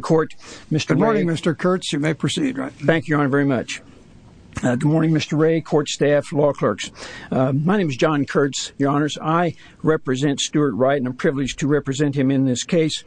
Court. Good morning Mr. Kurtz, you may proceed. Thank you, Your Honor, very much. Good morning Mr. Wray, court staff, law clerks. My name is John Kurtz, Your Honors. I represent Stuart Wright and I'm privileged to represent him in this case,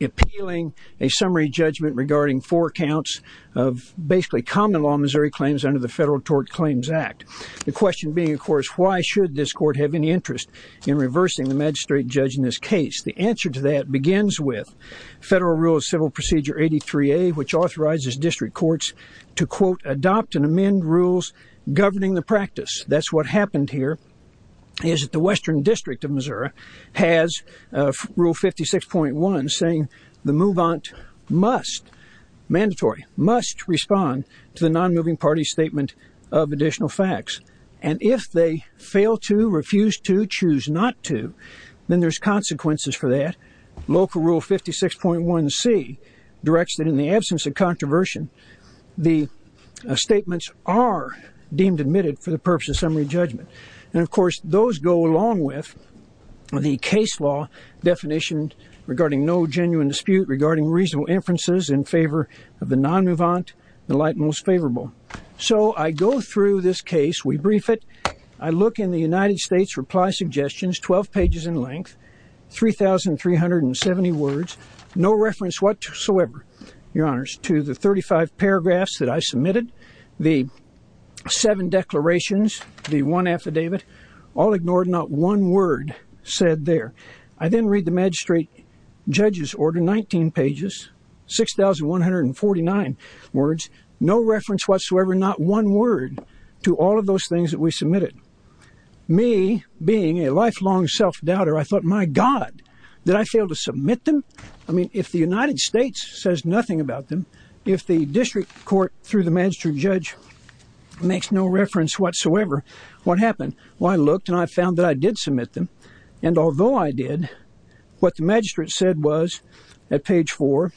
appealing a summary judgment regarding four counts of basically common law Missouri claims under the Federal Tort Claims Act. The question being, of course, why should this court have any interest in reversing the magistrate judge in this case? The answer to that begins with Federal Rule of Civil Procedure 83A, which authorizes district courts to, quote, adopt and amend rules governing the practice. That's what happened here, is that the Western District of Missouri has Rule 56.1 saying the move-on must, mandatory, must respond to the non-moving party statement of additional facts. And if they fail to, refuse to, choose not to, then there's consequences for that. Local Rule 56.1C directs that in the absence of controversy, the statements are deemed admitted for the purpose of summary judgment. And, of course, those go along with the case law definition regarding no genuine dispute, regarding reasonable inferences in favor of the non-mouvant, the light most favorable. So I go through this case, we brief it. I look in the United States reply suggestions, 12 pages in length, 3,370 words, no reference whatsoever, your honors, to the 35 paragraphs that I submitted. The seven declarations, the one affidavit, all ignored, not one word said there. I then read the magistrate judge's order, 19 pages, 6,149 words, no reference whatsoever, not one word to all of those things that we submitted. Me, being a lifelong self-doubter, I thought, my God, did I fail to submit them? I mean, if the United States says nothing about them, if the district court through the magistrate judge makes no reference whatsoever, what happened? Well, I looked and I found that I did submit them. And although I did, what the magistrate said was, at page four,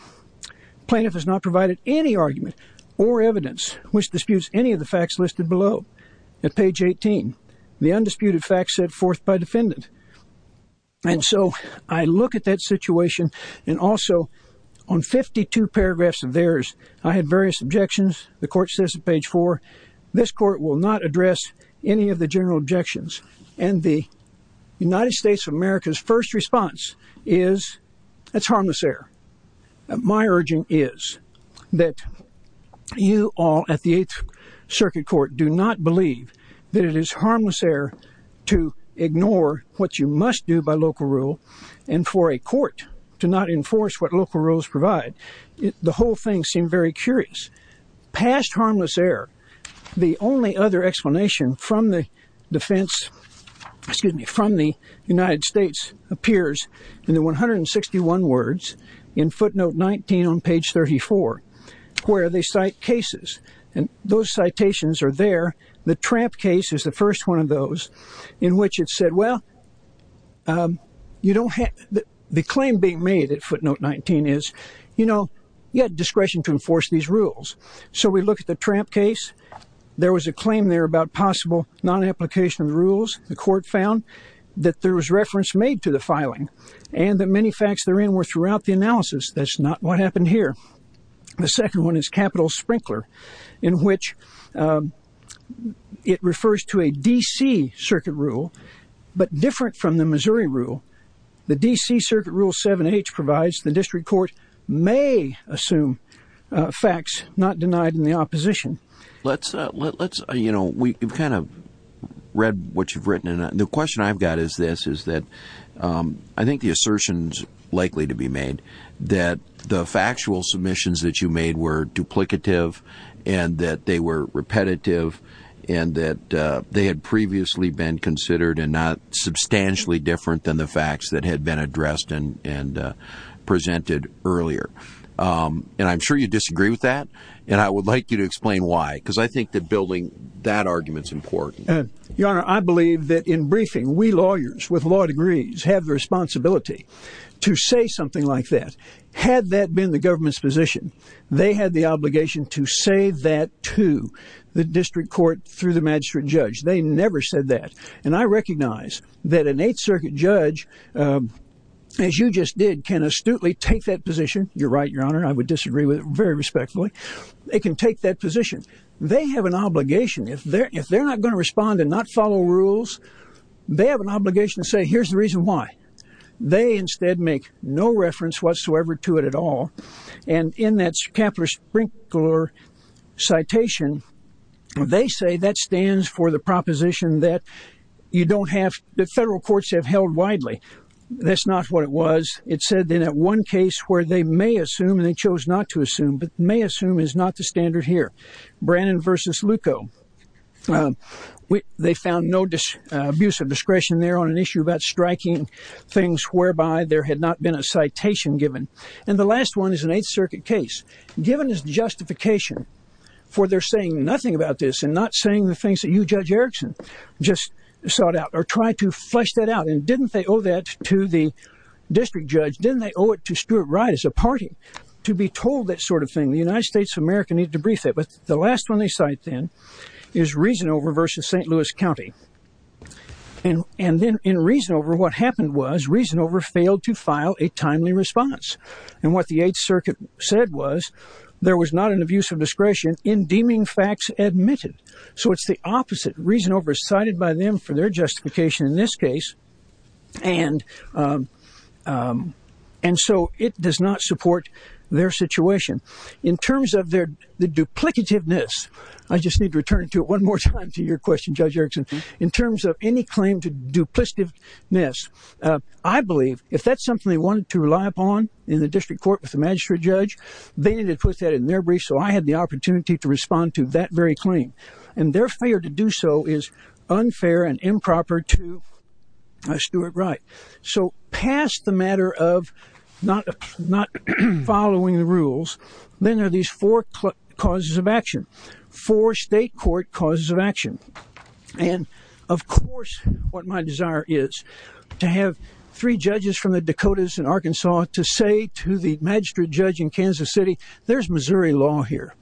plaintiff has not provided any argument or evidence which disputes any of the facts listed below. At page 18, the undisputed facts set forth by defendant. And so I look at that situation and also on 52 paragraphs of theirs, I had various objections. The court says at page four, this court will not address any of the general objections. And the United States of America's first response is, it's harmless error. My urging is that you all at the eighth circuit court do not believe that it is harmless error to ignore what you must do by local rule. And for a court to not enforce what local rules provide. The whole thing seemed very curious. Past harmless error. The only other explanation from the defense, excuse me, from the United States appears in the 161 words in footnote 19 on page 34, where they cite cases. And those citations are there. The tramp case is the first one of those in which it said, well, you don't have the claim being made at footnote 19 is, you know, you had discretion to enforce these rules. So we look at the tramp case. There was a claim there about possible non-application of rules. The court found that there was reference made to the filing and that many facts therein were throughout the analysis. That's not what happened here. The second one is capital sprinkler, in which it refers to a D.C. circuit rule, but different from the Missouri rule. The D.C. circuit rule 7H provides the district court may assume facts not denied in the opposition. Let's, you know, we've kind of read what you've written, and the question I've got is this, is that I think the assertions likely to be made that the factual submissions that you made were duplicative and that they were repetitive and that they had previously been considered and not substantially different than the facts that had been addressed and presented earlier. And I'm sure you disagree with that. And I would like you to explain why, because I think that building that argument is important. Your Honor, I believe that in briefing, we lawyers with law degrees have the responsibility to say something like that. Had that been the government's position, they had the obligation to say that to the district court through the magistrate judge. They never said that. And I recognize that an Eighth Circuit judge, as you just did, can astutely take that position. You're right, Your Honor. I would disagree with it very respectfully. They can take that position. They have an obligation. If they're not going to respond and not follow rules, they have an obligation to say, here's the reason why. They instead make no reference whatsoever to it at all. And in that Kapler-Sprinkler citation, they say that stands for the proposition that you don't have the federal courts have held widely. That's not what it was. It said that at one case where they may assume and they chose not to assume, but may assume is not the standard here. Brannon versus Lucco. They found no abuse of discretion there on an issue about striking things whereby there had not been a citation given. And the last one is an Eighth Circuit case. Given is justification for their saying nothing about this and not saying the things that you, Judge Erickson, just sought out or tried to flesh that out. And didn't they owe that to the district judge? Didn't they owe it to Stuart Wright as a party to be told that sort of thing? The United States of America needed to brief it. But the last one they cite then is Reasonover versus St. Louis County. And then in Reasonover, what happened was Reasonover failed to file a timely response. And what the Eighth Circuit said was there was not an abuse of discretion in deeming facts admitted. So it's the opposite. Reasonover is cited by them for their justification in this case. And so it does not support their situation. In terms of their duplicativeness, I just need to return to it one more time to your question, Judge Erickson. In terms of any claim to duplicativeness, I believe if that's something they wanted to rely upon in the district court with the magistrate judge, they need to put that in their brief. So I had the opportunity to respond to that very claim. And their failure to do so is unfair and improper to Stuart Wright. So past the matter of not following the rules, then are these four causes of action, four state court causes of action. And, of course, what my desire is to have three judges from the Dakotas and Arkansas to say to the magistrate judge in Kansas City, there's Missouri law here.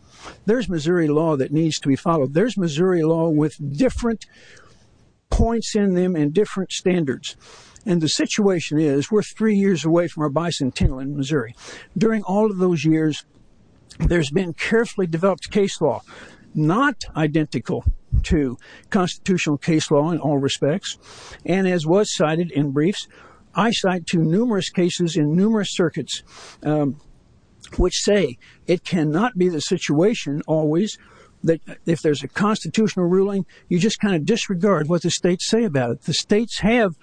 There's Missouri law that needs to be followed. There's Missouri law with different points in them and different standards. And the situation is we're three years away from our bicentennial in Missouri. During all of those years, there's been carefully developed case law not identical to constitutional case law in all respects. And as was cited in briefs, I cite to numerous cases in numerous circuits which say it cannot be the situation always that if there's a constitutional ruling, you just kind of disregard what the states say about it. But the states have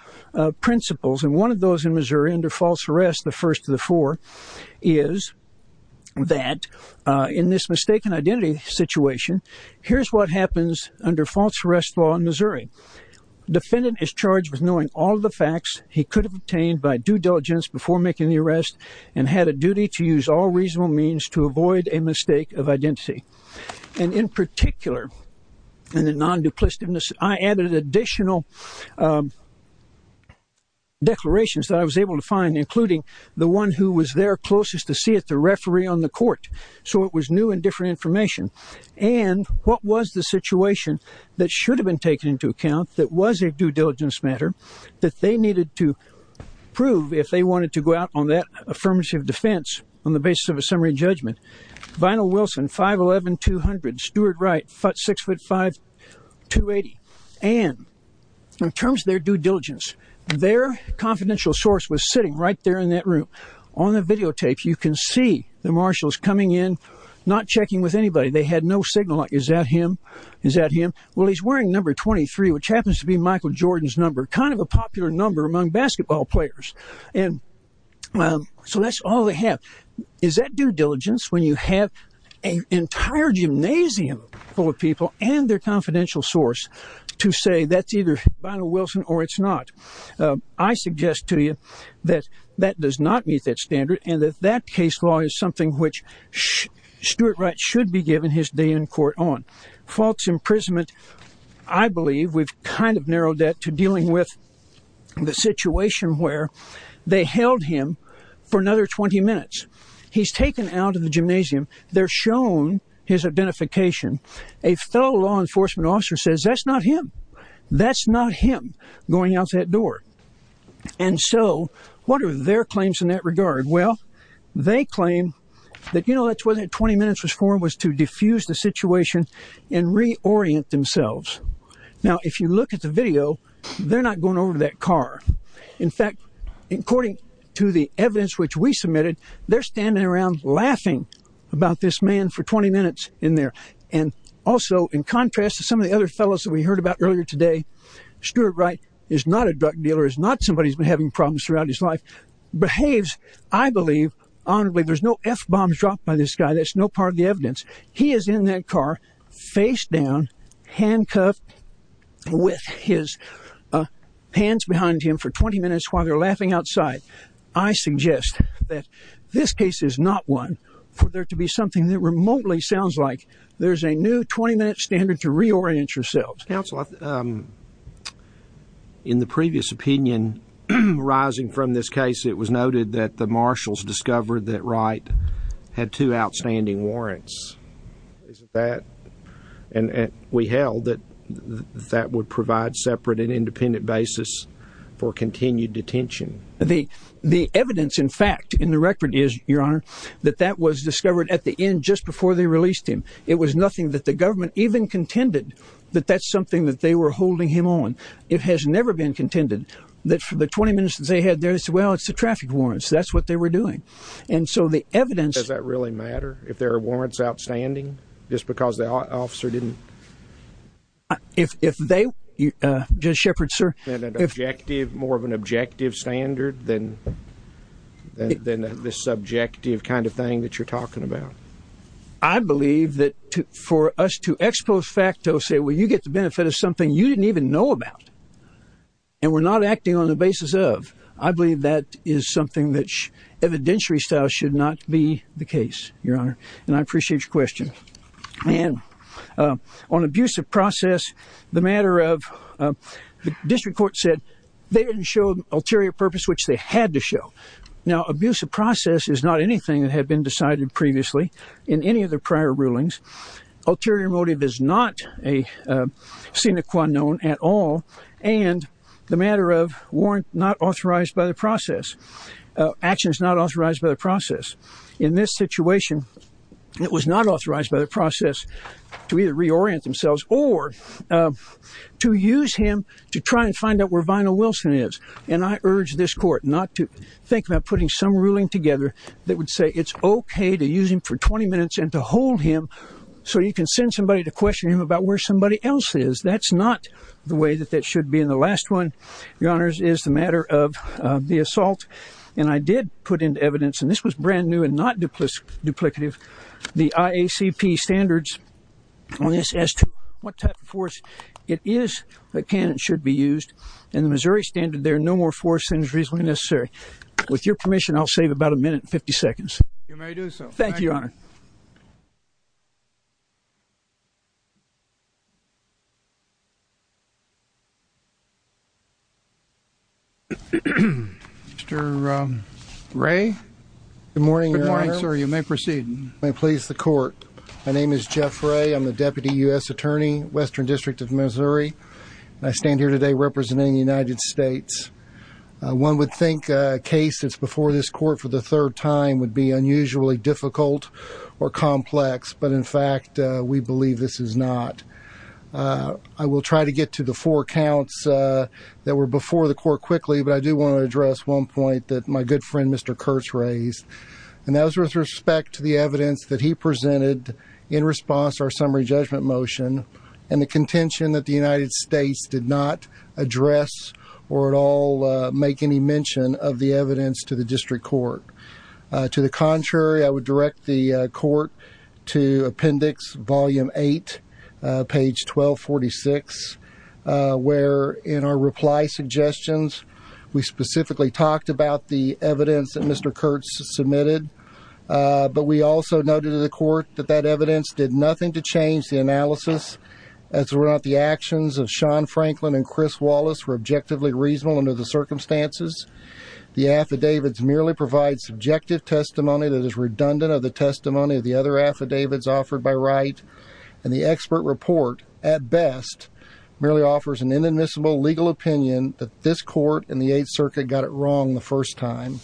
principles. And one of those in Missouri under false arrest, the first of the four, is that in this mistaken identity situation, here's what happens under false arrest law in Missouri. Defendant is charged with knowing all the facts he could have obtained by due diligence before making the arrest and had a duty to use all reasonable means to avoid a mistake of identity. And in particular, in the non-duplicitiveness, I added additional declarations that I was able to find, including the one who was there closest to see it, the referee on the court. So it was new and different information. And what was the situation that should have been taken into account that was a due diligence matter that they needed to prove if they wanted to go out on that affirmative defense on the basis of a summary judgment? Vinyl Wilson, 5'11", 200. Stuart Wright, 6'5", 280. And in terms of their due diligence, their confidential source was sitting right there in that room. On the videotape, you can see the marshals coming in, not checking with anybody. They had no signal. Is that him? Is that him? Well, he's wearing number 23, which happens to be Michael Jordan's number, kind of a popular number among basketball players. And so that's all they have. Is that due diligence when you have an entire gymnasium full of people and their confidential source to say that's either Vinyl Wilson or it's not? I suggest to you that that does not meet that standard and that that case law is something which Stuart Wright should be given his day in court on. False imprisonment, I believe we've kind of narrowed that to dealing with the situation where they held him for another 20 minutes. He's taken out of the gymnasium. They're shown his identification. A fellow law enforcement officer says that's not him. That's not him going out that door. And so what are their claims in that regard? Well, they claim that, you know, that's what that 20 minutes was for, was to diffuse the situation and reorient themselves. Now, if you look at the video, they're not going over to that car. In fact, according to the evidence which we submitted, they're standing around laughing about this man for 20 minutes in there. And also, in contrast to some of the other fellows that we heard about earlier today, Stuart Wright is not a drug dealer, is not somebody who's been having problems throughout his life. Behaves, I believe, honorably. There's no F-bombs dropped by this guy. That's no part of the evidence. He is in that car, face down, handcuffed with his hands behind him for 20 minutes while they're laughing outside. I suggest that this case is not one for there to be something that remotely sounds like there's a new 20-minute standard to reorient yourselves. Counsel, in the previous opinion arising from this case, it was noted that the marshals discovered that Wright had two outstanding warrants. Isn't that, and we held that that would provide separate and independent basis for continued detention. The evidence, in fact, in the record is, Your Honor, that that was discovered at the end just before they released him. It was nothing that the government even contended that that's something that they were holding him on. It has never been contended that for the 20 minutes they had there, they said, well, it's the traffic warrants. That's what they were doing. And so the evidence. Does that really matter if there are warrants outstanding just because the officer didn't? If they, Judge Shepard, sir. More of an objective standard than this subjective kind of thing that you're talking about. I believe that for us to expose facto say, well, you get the benefit of something you didn't even know about. And we're not acting on the basis of. I believe that is something that evidentiary style should not be the case, Your Honor. And I appreciate your question. And on abusive process, the matter of the district court said they didn't show ulterior purpose, which they had to show. Now, abusive process is not anything that had been decided previously in any of the prior rulings. Ulterior motive is not a sine qua non at all. And the matter of warrant not authorized by the process actions, not authorized by the process. In this situation, it was not authorized by the process to either reorient themselves or to use him to try and find out where vinyl Wilson is. And I urge this court not to think about putting some ruling together that would say it's OK to use him for 20 minutes and to hold him. So you can send somebody to question him about where somebody else is. That's not the way that that should be. And the last one, your honors, is the matter of the assault. And I did put in evidence and this was brand new and not duplicative. The IACP standards on this as to what type of force it is that can and should be used in the Missouri standard. There are no more force injuries when necessary. With your permission, I'll save about a minute and 50 seconds. You may do so. Thank you, Your Honor. Mr. Ray. Good morning, Your Honor. Good morning, sir. You may proceed. May it please the court. My name is Jeff Ray. I'm the deputy U.S. attorney, Western District of Missouri. I stand here today representing the United States. One would think a case that's before this court for the third time would be unusually difficult or complex. But, in fact, we believe this is not. I will try to get to the four counts that were before the court quickly, but I do want to address one point that my good friend, Mr. Kurtz, raised. And that was with respect to the evidence that he presented in response to our summary judgment motion and the contention that the United States did not address or at all make any mention of the evidence to the district court. To the contrary, I would direct the court to Appendix Volume 8, page 1246, where, in our reply suggestions, we specifically talked about the evidence that Mr. Kurtz submitted. But we also noted to the court that that evidence did nothing to change the analysis, as were not the actions of Sean Franklin and Chris Wallace were objectively reasonable under the circumstances. The affidavits merely provide subjective testimony that is redundant of the testimony of the other affidavits offered by right. And the expert report, at best, merely offers an inadmissible legal opinion that this court and the Eighth Circuit got it wrong the first time.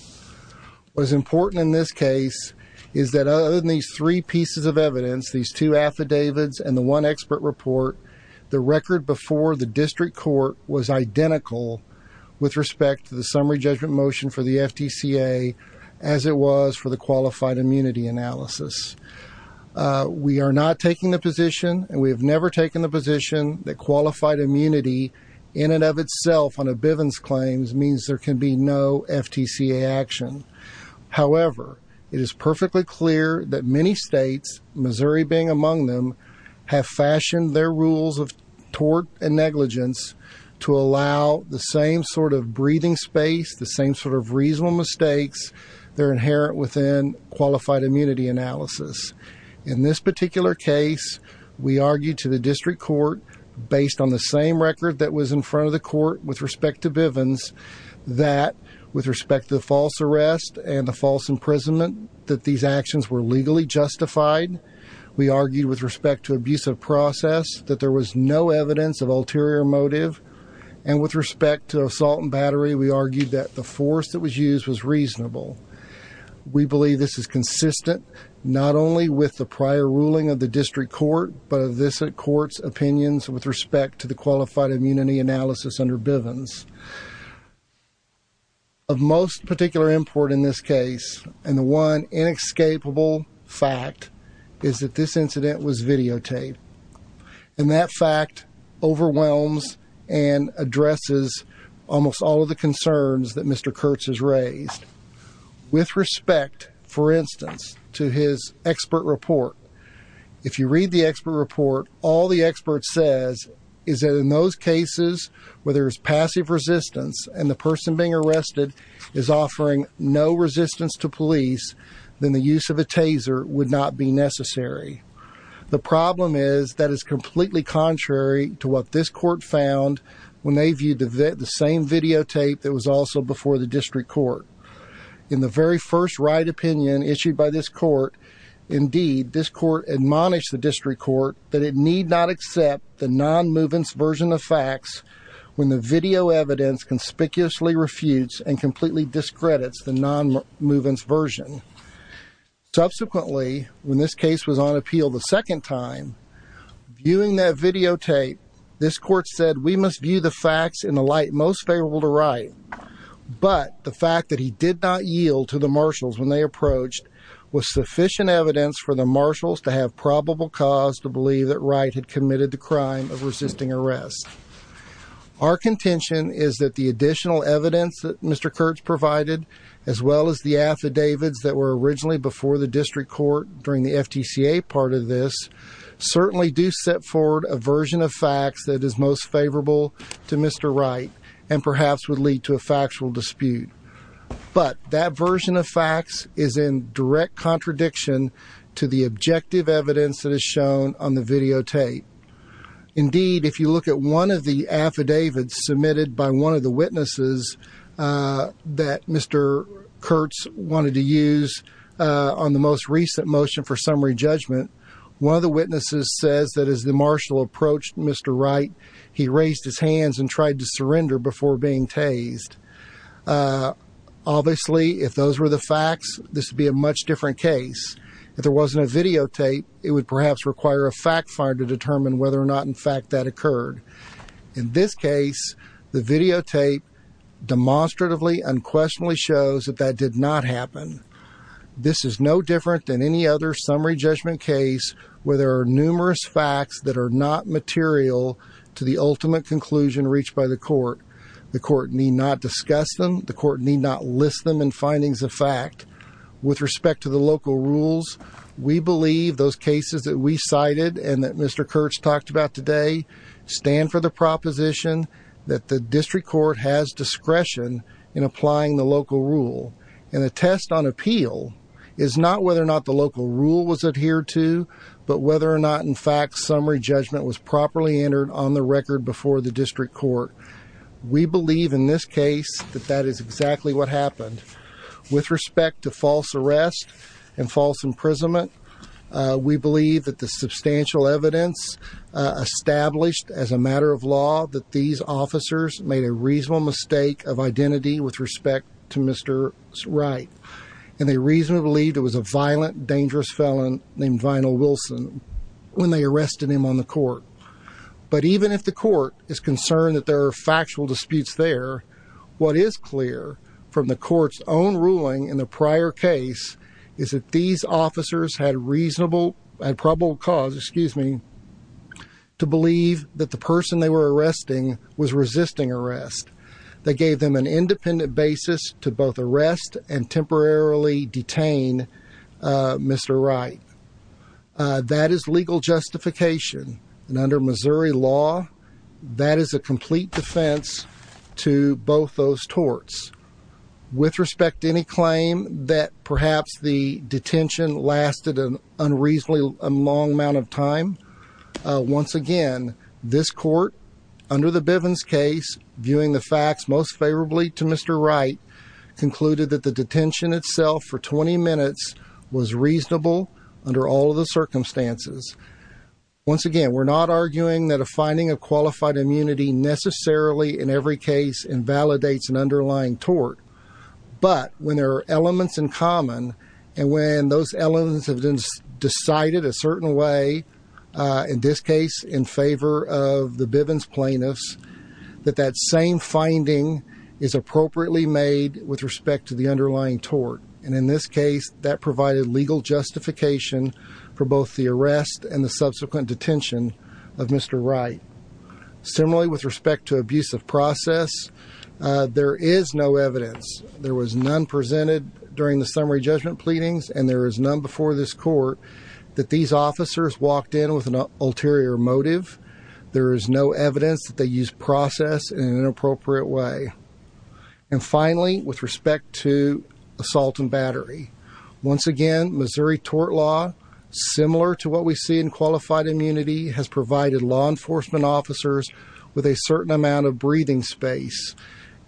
What is important in this case is that, other than these three pieces of evidence, these two affidavits and the one expert report, the record before the district court was identical with respect to the summary judgment motion for the FTCA, as it was for the qualified immunity analysis. We are not taking the position, and we have never taken the position, that qualified immunity in and of itself on a Bivens claim means there can be no FTCA action. However, it is perfectly clear that many states, Missouri being among them, have fashioned their rules of tort and negligence to allow the same sort of breathing space, the same sort of reasonable mistakes that are inherent within qualified immunity analysis. In this particular case, we argue to the district court, based on the same record that was in front of the court with respect to Bivens, that, with respect to the false arrest and the false imprisonment, that these actions were legally justified. We argued, with respect to abusive process, that there was no evidence of ulterior motive. And with respect to assault and battery, we argued that the force that was used was reasonable. We believe this is consistent, not only with the prior ruling of the district court, but of this court's opinions with respect to the qualified immunity analysis under Bivens. Of most particular import in this case, and the one inescapable fact, is that this incident was videotaped. And that fact overwhelms and addresses almost all of the concerns that Mr. Kurtz has raised. With respect, for instance, to his expert report, if you read the expert report, all the expert says is that in those cases where there is passive resistance and the person being arrested is offering no resistance to police, then the use of a taser would not be necessary. The problem is that is completely contrary to what this court found when they viewed the same videotape that was also before the district court. In the very first right opinion issued by this court, indeed, this court admonished the district court that it need not accept the non-movement version of facts when the video evidence conspicuously refutes and completely discredits the non-movement version. Subsequently, when this case was on appeal the second time, viewing that videotape, this court said we must view the facts in the light most favorable to right. But the fact that he did not yield to the marshals when they approached was sufficient evidence for the marshals to have probable cause to believe that Wright had committed the crime of resisting arrest. Our contention is that the additional evidence that Mr. Kurtz provided, as well as the affidavits that were originally before the district court during the FTCA part of this, certainly do set forward a version of facts that is most favorable to Mr. Wright and perhaps would lead to a factual dispute. But that version of facts is in direct contradiction to the objective evidence that is shown on the videotape. Indeed, if you look at one of the affidavits submitted by one of the witnesses that Mr. Kurtz wanted to use on the most recent motion for summary judgment, one of the witnesses says that as the marshal approached Mr. Wright, he raised his hands and tried to surrender before being tased. Obviously, if those were the facts, this would be a much different case. If there wasn't a videotape, it would perhaps require a fact finder to determine whether or not in fact that occurred. In this case, the videotape demonstratively unquestionably shows that that did not happen. This is no different than any other summary judgment case where there are numerous facts that are not material to the ultimate conclusion reached by the court. The court need not discuss them. The court need not list them in findings of fact. With respect to the local rules, we believe those cases that we cited and that Mr. Kurtz talked about today stand for the proposition that the district court has discretion in applying the local rule. And the test on appeal is not whether or not the local rule was adhered to, but whether or not in fact summary judgment was properly entered on the record before the district court. We believe in this case that that is exactly what happened. With respect to false arrest and false imprisonment, we believe that the substantial evidence established as a matter of law that these officers made a reasonable mistake of identity with respect to Mr. Wright. And they reasonably believed it was a violent, dangerous felon named Vinyl Wilson when they arrested him on the court. But even if the court is concerned that there are factual disputes there, what is clear from the court's own ruling in the prior case is that these officers had probable cause to believe that the person they were arresting was resisting arrest. They gave them an independent basis to both arrest and temporarily detain Mr. Wright. That is legal justification. And under Missouri law, that is a complete defense to both those torts. With respect to any claim that perhaps the detention lasted an unreasonably long amount of time, once again, this court under the Bivens case, viewing the facts most favorably to Mr. Wright, concluded that the detention itself for 20 minutes was reasonable under all of the circumstances. Once again, we're not arguing that a finding of qualified immunity necessarily in every case invalidates an underlying tort. But when there are elements in common, and when those elements have been decided a certain way, in this case in favor of the Bivens plaintiffs, that that same finding is appropriately made with respect to the underlying tort. And in this case, that provided legal justification for both the arrest and the subsequent detention of Mr. Wright. Similarly, with respect to abuse of process, there is no evidence. There was none presented during the summary judgment pleadings, and there is none before this court that these officers walked in with an ulterior motive. There is no evidence that they used process in an inappropriate way. And finally, with respect to assault and battery, once again, Missouri tort law, similar to what we see in qualified immunity, has provided law enforcement officers with a certain amount of breathing space.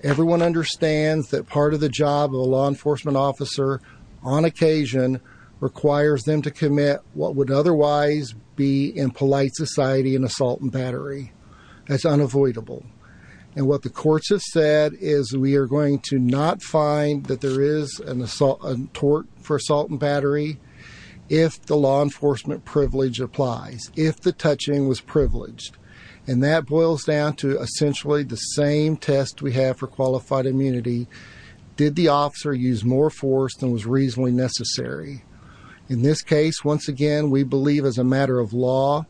Everyone understands that part of the job of a law enforcement officer, on occasion, requires them to commit what would otherwise be, in polite society, an assault and battery. That's unavoidable. And what the courts have said is we are going to not find that there is a tort for assault and battery if the law enforcement privilege applies, if the touching was privileged. And that boils down to essentially the same test we have for qualified immunity. Did the officer use more force than was reasonably necessary? In this case, once again, we believe, as a matter of law,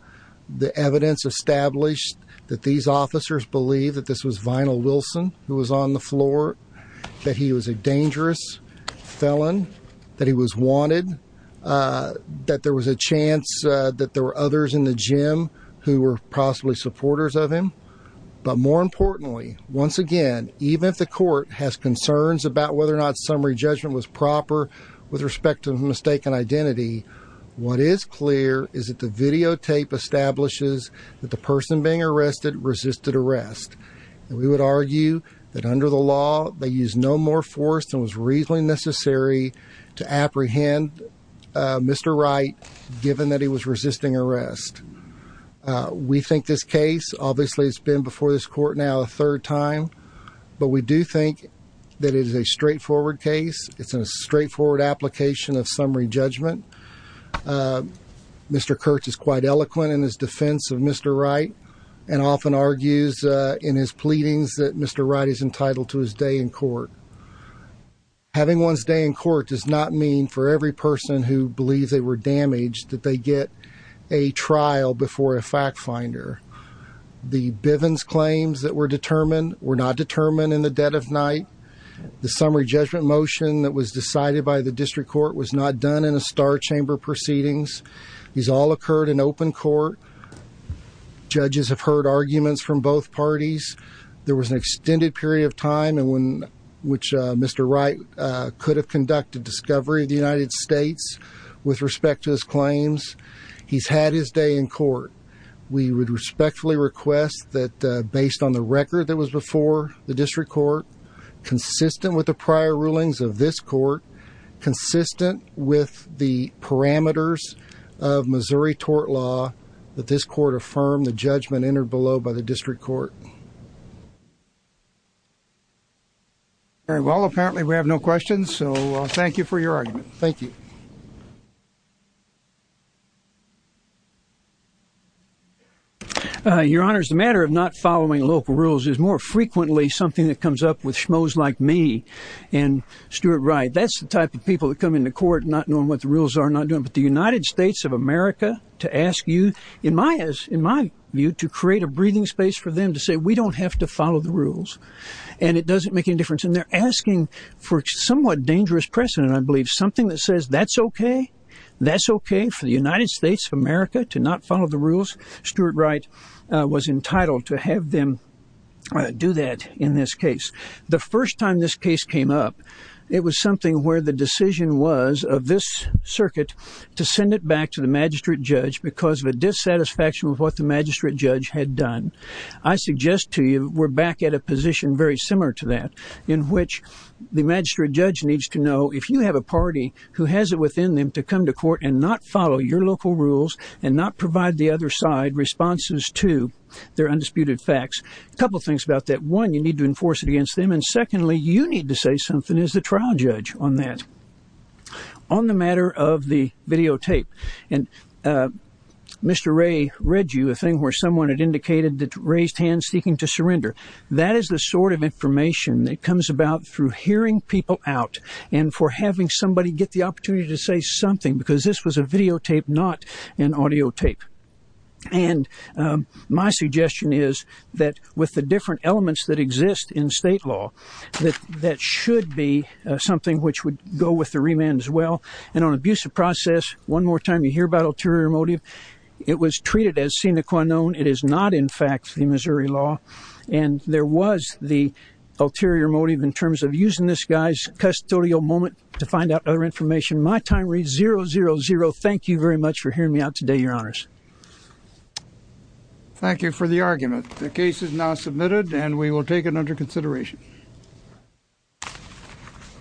the evidence established that these officers believe that this was Vinyl Wilson who was on the floor, that he was a dangerous felon, that he was wanted, that there was a chance that there were others in the gym who were possibly supporters of him. But more importantly, once again, even if the court has concerns about whether or not summary judgment was proper with respect to mistaken identity, what is clear is that the videotape establishes that the person being arrested resisted arrest. And we would argue that under the law they used no more force than was reasonably necessary to apprehend Mr. Wright given that he was resisting arrest. We think this case, obviously it's been before this court now a third time, but we do think that it is a straightforward case. It's a straightforward application of summary judgment. Mr. Kurtz is quite eloquent in his defense of Mr. Wright and often argues in his pleadings that Mr. Wright is entitled to his day in court. Having one's day in court does not mean for every person who believes they were damaged that they get a trial before a fact finder. The Bivens claims that were determined were not determined in the dead of night. The summary judgment motion that was decided by the district court was not done in a star chamber proceedings. These all occurred in open court. Judges have heard arguments from both parties. There was an extended period of time in which Mr. Wright could have conducted discovery of the United States with respect to his claims. He's had his day in court. We would respectfully request that based on the record that was before the district court, consistent with the prior rulings of this court, consistent with the parameters of Missouri tort law, that this court affirm the judgment entered below by the district court. Well, apparently we have no questions, so thank you for your argument. Thank you. Your Honors, the matter of not following local rules is more frequently something that comes up with schmoes like me and Stuart Wright. That's the type of people that come into court not knowing what the rules are, not knowing what the United States of America to ask you, in my view, to create a breathing space for them to say, we don't have to follow the rules and it doesn't make any difference. And they're asking for somewhat dangerous precedent, I believe, something that says that's OK. That's OK for the United States of America to not follow the rules. Stuart Wright was entitled to have them do that in this case. The first time this case came up, it was something where the decision was of this circuit to send it back to the magistrate judge because of a dissatisfaction with what the magistrate judge had done. I suggest to you we're back at a position very similar to that in which the magistrate judge needs to know if you have a party who has it within them to come to court and not follow your local rules and not provide the other side responses to their undisputed facts. A couple of things about that. One, you need to enforce it against them. And secondly, you need to say something as the trial judge on that. On the matter of the videotape, and Mr. Ray read you a thing where someone had indicated that raised hands seeking to surrender. That is the sort of information that comes about through hearing people out and for having somebody get the opportunity to say something because this was a videotape, not an audio tape. And my suggestion is that with the different elements that exist in state law, that should be something which would go with the remand as well. And on abusive process, one more time, you hear about ulterior motive. It was treated as sine qua non. It is not, in fact, the Missouri law. And there was the ulterior motive in terms of using this guy's custodial moment to find out other information. My time reads zero, zero, zero. Thank you very much for hearing me out today, Your Honors. Thank you for the argument. The case is now submitted and we will take it under consideration.